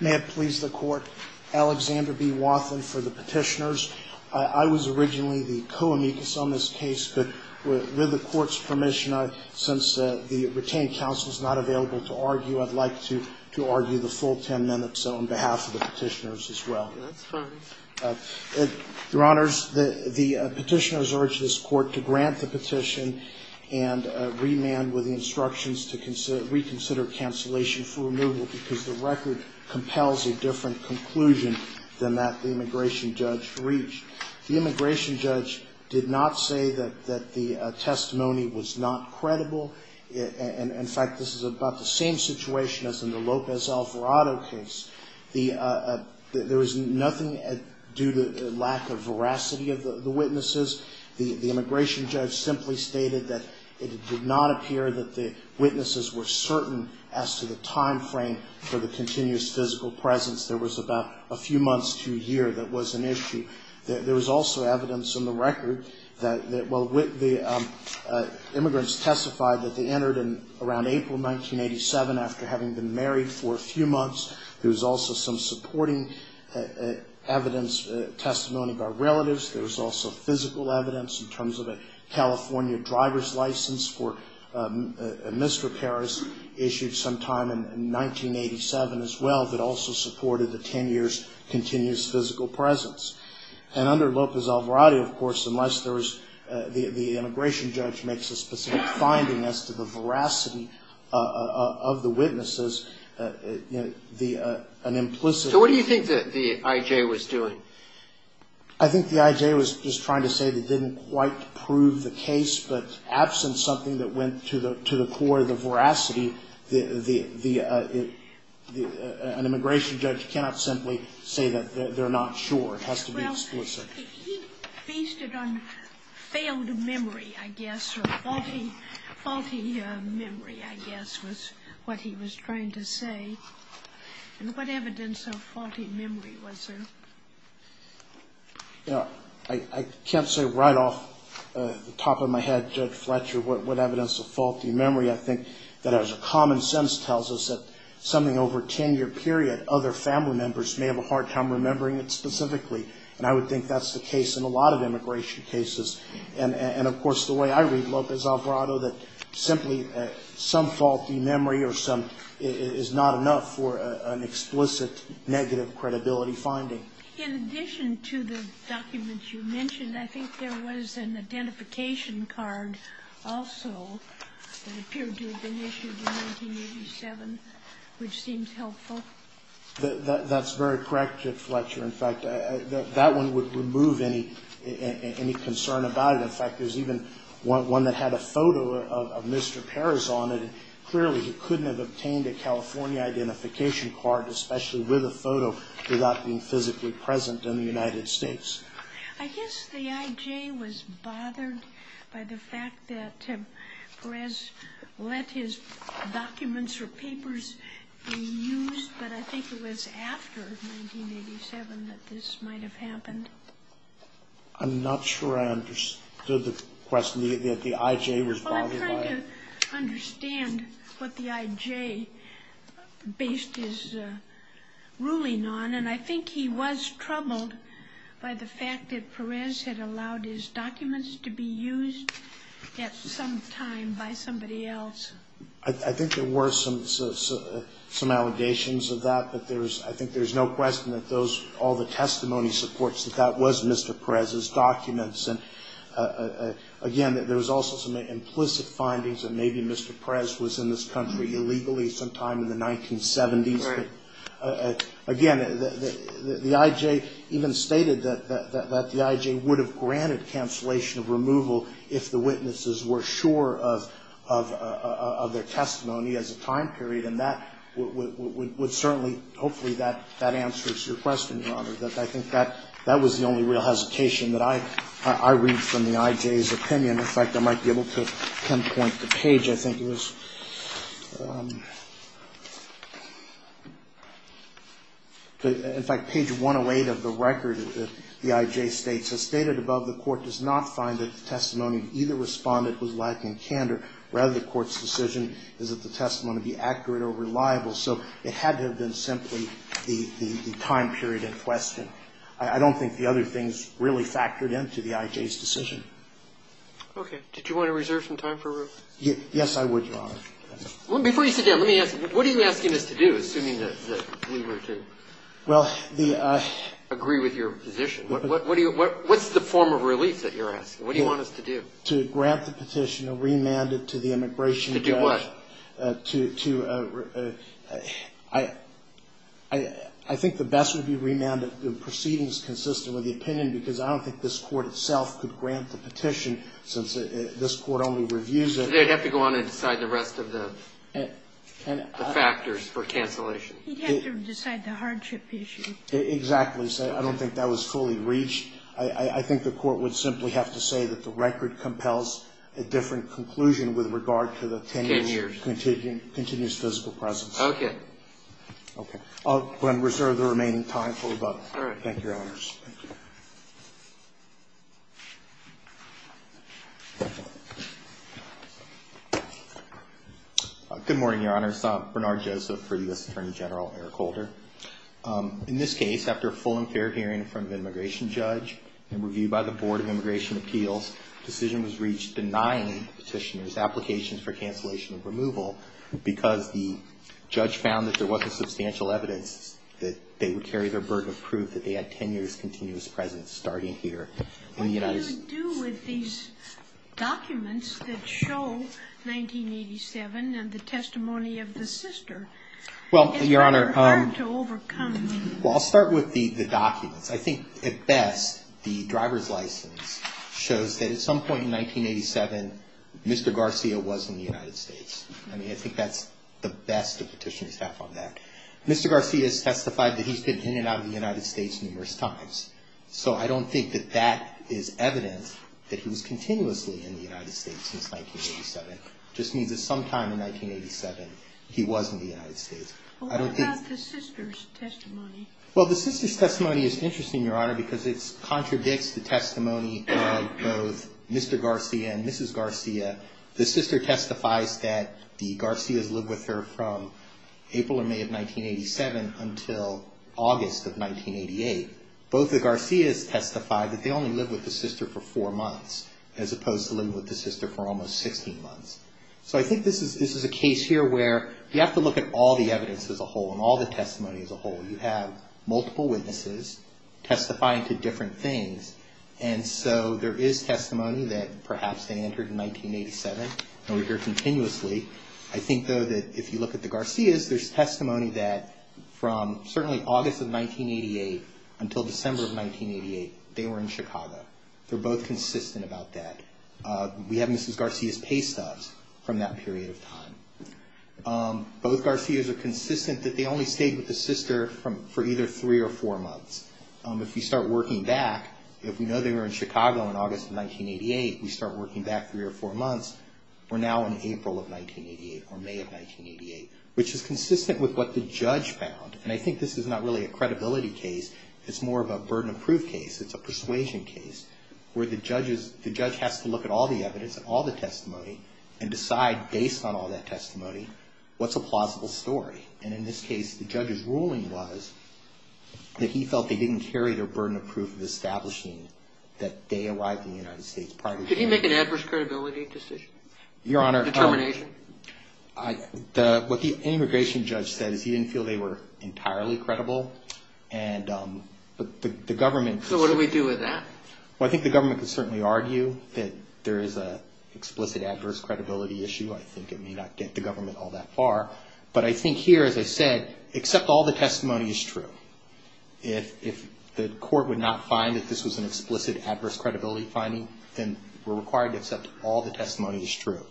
May it please the Court, Alexander B. Wathen for the petitioners. I was originally the co-amicus on this case, but with the Court's permission, since the retained counsel is not available to argue, I'd like to argue the full 10 minutes on behalf of the petitioners as well. That's fine. Your Honors, the petitioners urge this Court to grant the petition and remand with the instructions to reconsider cancellation for removal because the record compels a different conclusion than that the immigration judge reached. The immigration judge did not say that the testimony was not credible. In fact, this is about the same situation as in the Lopez Alvarado case. There was nothing due to lack of veracity of the witnesses. The immigration judge simply stated that it did not appear that the witnesses were certain as to the timeframe for the continuous physical presence. There was about a few months to a year that was an issue. There was also evidence in the record that while the immigrants testified that they entered in around April 1987 after having been married for a few months, there was also some supporting evidence, testimony by relatives. There was also physical evidence in terms of a California driver's license for misrepairs issued sometime in 1987 as well that also supported the 10 years' continuous physical presence. And under Lopez Alvarado, of course, unless there was the immigration judge makes a specific finding as to the veracity of the witnesses, an implicit So what do you think the I.J. was doing? I think the I.J. was just trying to say they didn't quite prove the case, but absent something that went to the core of the veracity, an immigration judge cannot simply say that they're not sure. It has to be explicit. He feasted on failed memory, I guess, or faulty memory, I guess, was what he was trying to say. And what evidence of faulty memory was there? I can't say right off the top of my head, Judge Fletcher, what evidence of faulty memory. I think that as common sense tells us that something over a 10-year period, other family members may have a hard time remembering it specifically. And I would think that's the case in a lot of immigration cases. And, of course, the way I read Lopez Alvarado, that simply some faulty memory or some is not enough for an explicit negative credibility finding. In addition to the documents you mentioned, I think there was an identification card also that appeared to have been issued in 1987, which seems helpful. That's very correct, Judge Fletcher. In fact, that one would remove any concern about it. In fact, there's even one that had a photo of Mr. Perez on it. Clearly, he couldn't have obtained a California identification card, especially with a photo, without being physically present in the United States. I guess the I.J. was bothered by the fact that Perez let his documents or papers be used, but I think it was after 1987 that this might have happened. I'm not sure I understood the question. The I.J. was bothered by it. I don't understand what the I.J. based his ruling on, and I think he was troubled by the fact that Perez had allowed his documents to be used at some time by somebody else. I think there were some allegations of that, but I think there's no question that all the testimony supports that that was Mr. Perez's documents. Again, there was also some implicit findings that maybe Mr. Perez was in this country illegally sometime in the 1970s. Again, the I.J. even stated that the I.J. would have granted cancellation of removal if the witnesses were sure of their testimony as a time period. And that would certainly, hopefully, that answers your question, Your Honor, that I think that was the only real hesitation that I read from the I.J.'s opinion. In fact, I might be able to pinpoint the page. I think it was, in fact, page 108 of the record that the I.J. states, As stated above, the Court does not find that the testimony of either Respondent was lacking candor. Rather, the Court's decision is that the testimony be accurate or reliable. So it had to have been simply the time period in question. I don't think the other things really factored into the I.J.'s decision. Okay. Did you want to reserve some time for Ruth? Yes, I would, Your Honor. Before you sit down, let me ask you, what are you asking us to do, assuming that we were to agree with your position? What's the form of relief that you're asking? What do you want us to do? To grant the petitioner remanded to the immigration judge. To do what? I think the best would be remanded proceedings consistent with the opinion, because I don't think this Court itself could grant the petition, since this Court only reviews it. They'd have to go on and decide the rest of the factors for cancellation. He'd have to decide the hardship issue. Exactly. I don't think that was fully reached. I think the Court would simply have to say that the record compels a different conclusion with regard to the ten years' continuous physical presence. Okay. Okay. I'm going to reserve the remaining time for Ruth. All right. Thank you, Your Honors. Thank you. Good morning, Your Honors. Bernard Joseph for U.S. Attorney General Eric Holder. In this case, after a full and fair hearing from the immigration judge and review by the Board of Immigration Appeals, the decision was reached denying the petitioner's application for cancellation of removal because the judge found that there wasn't substantial evidence that they would carry their burden of proof that they had ten years' continuous presence starting here in the United States. What do you do with these documents that show 1987 and the testimony of the sister? Well, Your Honor. It's very hard to overcome. Well, I'll start with the documents. I think, at best, the driver's license shows that at some point in 1987, Mr. Garcia was in the United States. I mean, I think that's the best the petitioners have on that. Mr. Garcia has testified that he's been in and out of the United States numerous times, so I don't think that that is evidence that he was continuously in the United States since 1987. It just means that sometime in 1987, he was in the United States. Well, what about the sister's testimony? Well, the sister's testimony is interesting, Your Honor, because it contradicts the testimony of both Mr. Garcia and Mrs. Garcia. The sister testifies that the Garcias lived with her from April or May of 1987 until August of 1988. Both the Garcias testified that they only lived with the sister for four months, as opposed to living with the sister for almost 16 months. So I think this is a case here where you have to look at all the evidence as a whole and all the testimony as a whole. You have multiple witnesses testifying to different things, and so there is testimony that perhaps they entered in 1987 and were here continuously. I think, though, that if you look at the Garcias, there's testimony that from certainly August of 1988 until December of 1988, they were in Chicago. They're both consistent about that. We have Mrs. Garcia's pay stubs from that period of time. Both Garcias are consistent that they only stayed with the sister for either three or four months. If you start working back, if we know they were in Chicago in August of 1988, we start working back three or four months. We're now in April of 1988 or May of 1988, which is consistent with what the judge found, and I think this is not really a credibility case. It's more of a burden of proof case. It's a persuasion case where the judge has to look at all the evidence and all the testimony and decide based on all that testimony what's a plausible story, and in this case, the judge's ruling was that he felt they didn't carry their burden of proof of establishing that they arrived in the United States prior to that. Did he make an adverse credibility decision? Your Honor. Determination? What the immigration judge said is he didn't feel they were entirely credible, and the government... So what do we do with that? Well, I think the government could certainly argue that there is an explicit adverse credibility issue. I think it may not get the government all that far, but I think here, as I said, except all the testimony is true. If the court would not find that this was an explicit adverse credibility finding, then we're required to accept all the testimony is true.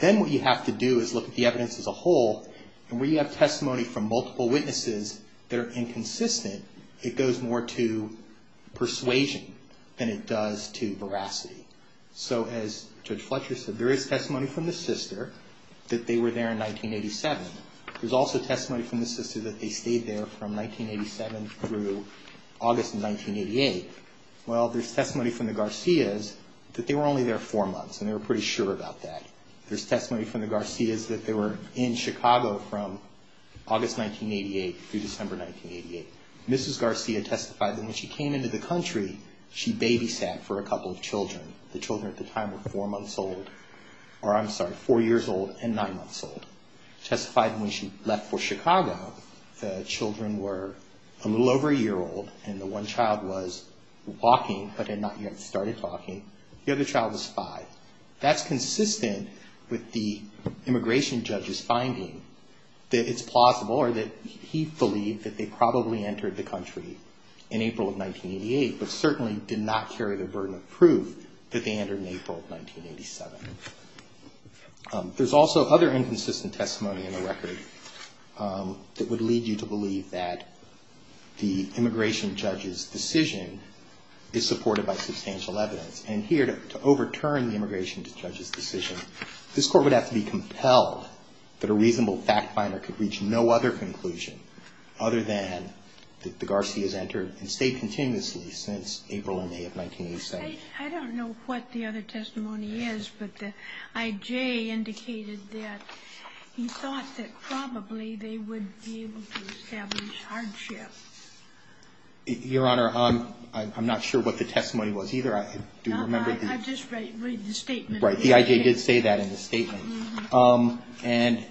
Then what you have to do is look at the evidence as a whole, and where you have testimony from multiple witnesses that are inconsistent, it goes more to persuasion than it does to veracity. So as Judge Fletcher said, there is testimony from the sister that they were there in 1987. There's also testimony from the sister that they stayed there from 1987 through August of 1988. Well, there's testimony from the Garcias that they were only there four months, and they were pretty sure about that. There's testimony from the Garcias that they were in Chicago from August 1988 through December 1988. Mrs. Garcia testified that when she came into the country, she babysat for a couple of children. The children at the time were four months old, or I'm sorry, four years old and nine months old. Testified when she left for Chicago, the children were a little over a year old, and the one child was walking but had not yet started walking. The other child was five. That's consistent with the immigration judge's finding that it's plausible, or that he believed that they probably entered the country in April of 1988, but certainly did not carry the burden of proof that they entered in April of 1987. There's also other inconsistent testimony in the record that would lead you to believe that the immigration judge's decision is supported by substantial evidence. And here, to overturn the immigration judge's decision, this Court would have to be compelled that a reasonable fact finder could reach no other conclusion other than that the Garcias entered and stayed continuously since April and May of 1987. I don't know what the other testimony is, but the I.J. indicated that he thought that probably they would be able to establish hardship. Your Honor, I'm not sure what the testimony was either. Do you remember? No, I just read the statement. Right, the I.J. did say that in the statement. And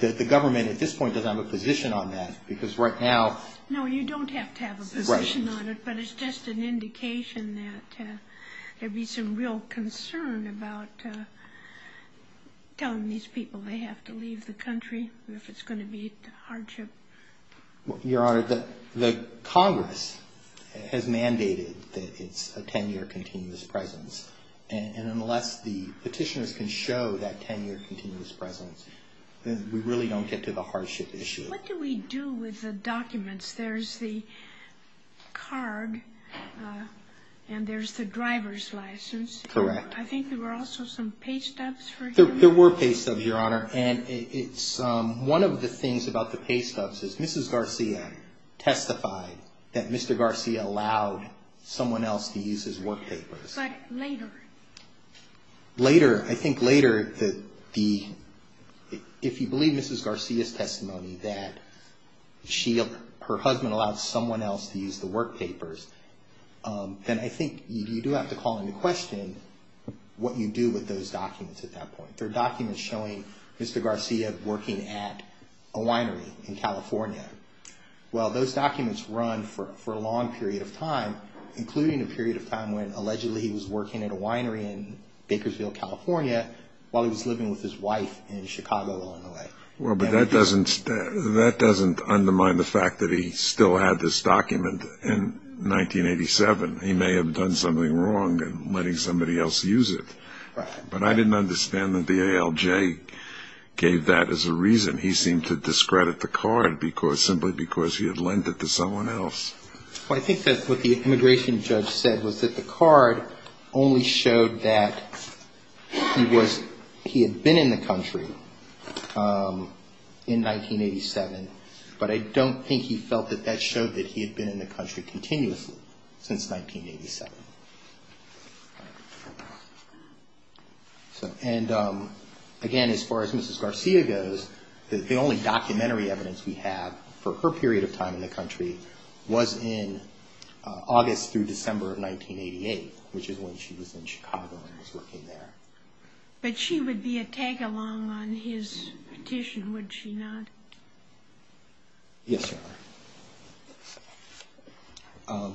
the government at this point doesn't have a position on that because right now— No, you don't have to have a position on it, but it's just an indication that there'd be some real concern about telling these people they have to leave the country if it's going to be hardship. Your Honor, the Congress has mandated that it's a 10-year continuous presence. And unless the petitioners can show that 10-year continuous presence, we really don't get to the hardship issue. What do we do with the documents? There's the card and there's the driver's license. Correct. I think there were also some pay stubs for him. There were pay stubs, Your Honor. One of the things about the pay stubs is Mrs. Garcia testified that Mr. Garcia allowed someone else to use his work papers. But later. Later, I think later, if you believe Mrs. Garcia's testimony that her husband allowed someone else to use the work papers, then I think you do have to call into question what you do with those documents at that point. There are documents showing Mr. Garcia working at a winery in California. Well, those documents run for a long period of time, including a period of time when allegedly he was working at a winery in Bakersfield, California, while he was living with his wife in Chicago along the way. Well, but that doesn't undermine the fact that he still had this document in 1987. He may have done something wrong in letting somebody else use it. Right. But I didn't understand that the ALJ gave that as a reason. He seemed to discredit the card simply because he had lent it to someone else. Well, I think that's what the immigration judge said, was that the card only showed that he had been in the country in 1987. But I don't think he felt that that showed that he had been in the country continuously since 1987. And again, as far as Mrs. Garcia goes, the only documentary evidence we have for her period of time in the country was in August through December of 1988, which is when she was in Chicago and was working there. But she would be a tag along on his petition, would she not? Yes, Your Honor.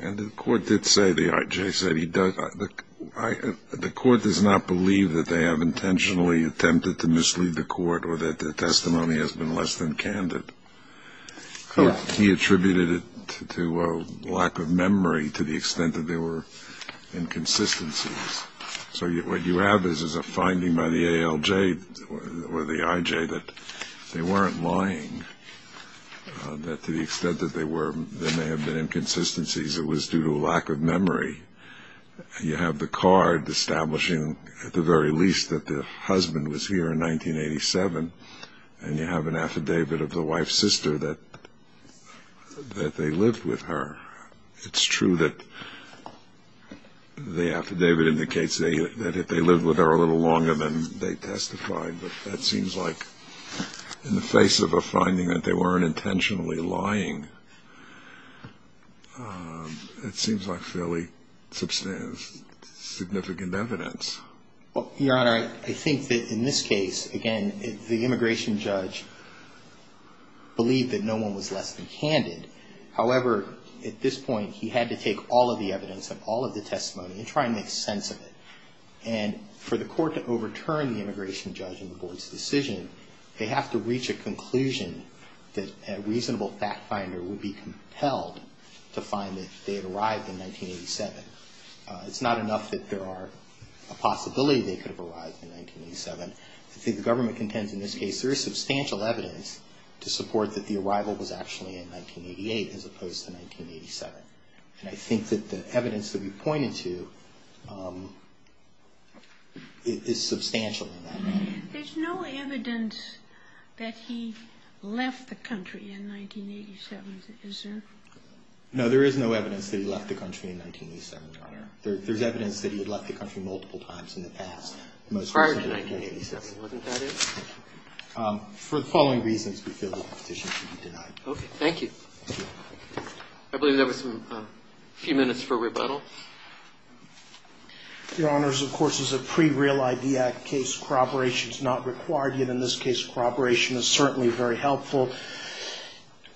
And the court did say, the ALJ said, the court does not believe that they have intentionally attempted to mislead the court or that the testimony has been less than candid. Correct. He attributed it to a lack of memory to the extent that there were inconsistencies. So what you have is a finding by the ALJ or the IJ that they weren't lying, that to the extent that there may have been inconsistencies, it was due to a lack of memory. You have the card establishing at the very least that the husband was here in 1987, and you have an affidavit of the wife's sister that they lived with her. It's true that the affidavit indicates that they lived with her a little longer than they testified, but that seems like, in the face of a finding that they weren't intentionally lying, it seems like fairly significant evidence. Well, Your Honor, I think that in this case, again, the immigration judge believed that no one was less than candid. However, at this point, he had to take all of the evidence of all of the testimony and try and make sense of it. And for the court to overturn the immigration judge and the board's decision, they have to reach a conclusion that a reasonable fact finder would be compelled to find that they had arrived in 1987. It's not enough that there are a possibility they could have arrived in 1987. I think the government contends in this case there is substantial evidence to support that the arrival was actually in 1988 as opposed to 1987. And I think that the evidence that we've pointed to is substantial in that. There's no evidence that he left the country in 1987, is there? No, there is no evidence that he left the country in 1987, Your Honor. There's evidence that he had left the country multiple times in the past. Prior to 1987, wasn't that it? For the following reasons, we feel that the petition should be denied. Okay. Thank you. I believe there was a few minutes for rebuttal. Your Honors, of course, as a pre-Real ID Act case, corroboration is not required. Yet in this case, corroboration is certainly very helpful.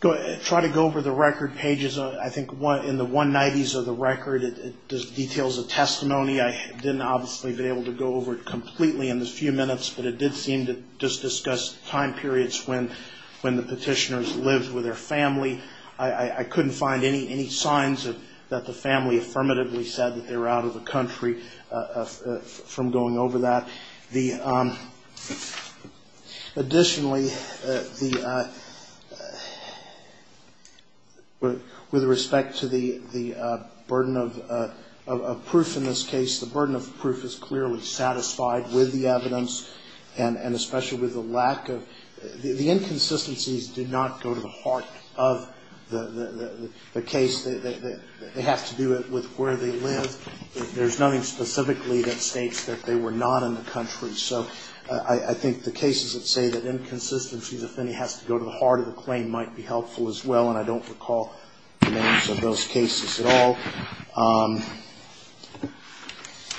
I'll try to go over the record pages. I think in the 190s of the record, it details a testimony. I didn't obviously be able to go over it completely in the few minutes, but it did seem to just discuss time periods when the petitioners lived with their family. I couldn't find any signs that the family affirmatively said that they were out of the country from going over that. Additionally, with respect to the burden of proof in this case, the burden of proof is clearly satisfied with the evidence, and especially with the lack of the inconsistencies do not go to the heart of the case. They have to do it with where they live. There's nothing specifically that states that they were not in the country. So I think the cases that say that inconsistencies, if any, has to go to the heart of the claim, might be helpful as well, and I don't recall the names of those cases at all.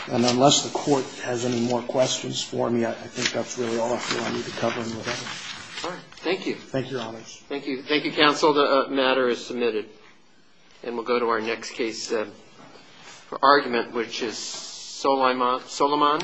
Unless the Court has any more questions for me, I think that's really all I feel I need to cover. Thank you. Thank you, Your Honors. Thank you, Counsel. The matter is submitted. And we'll go to our next case for argument, which is Solomon.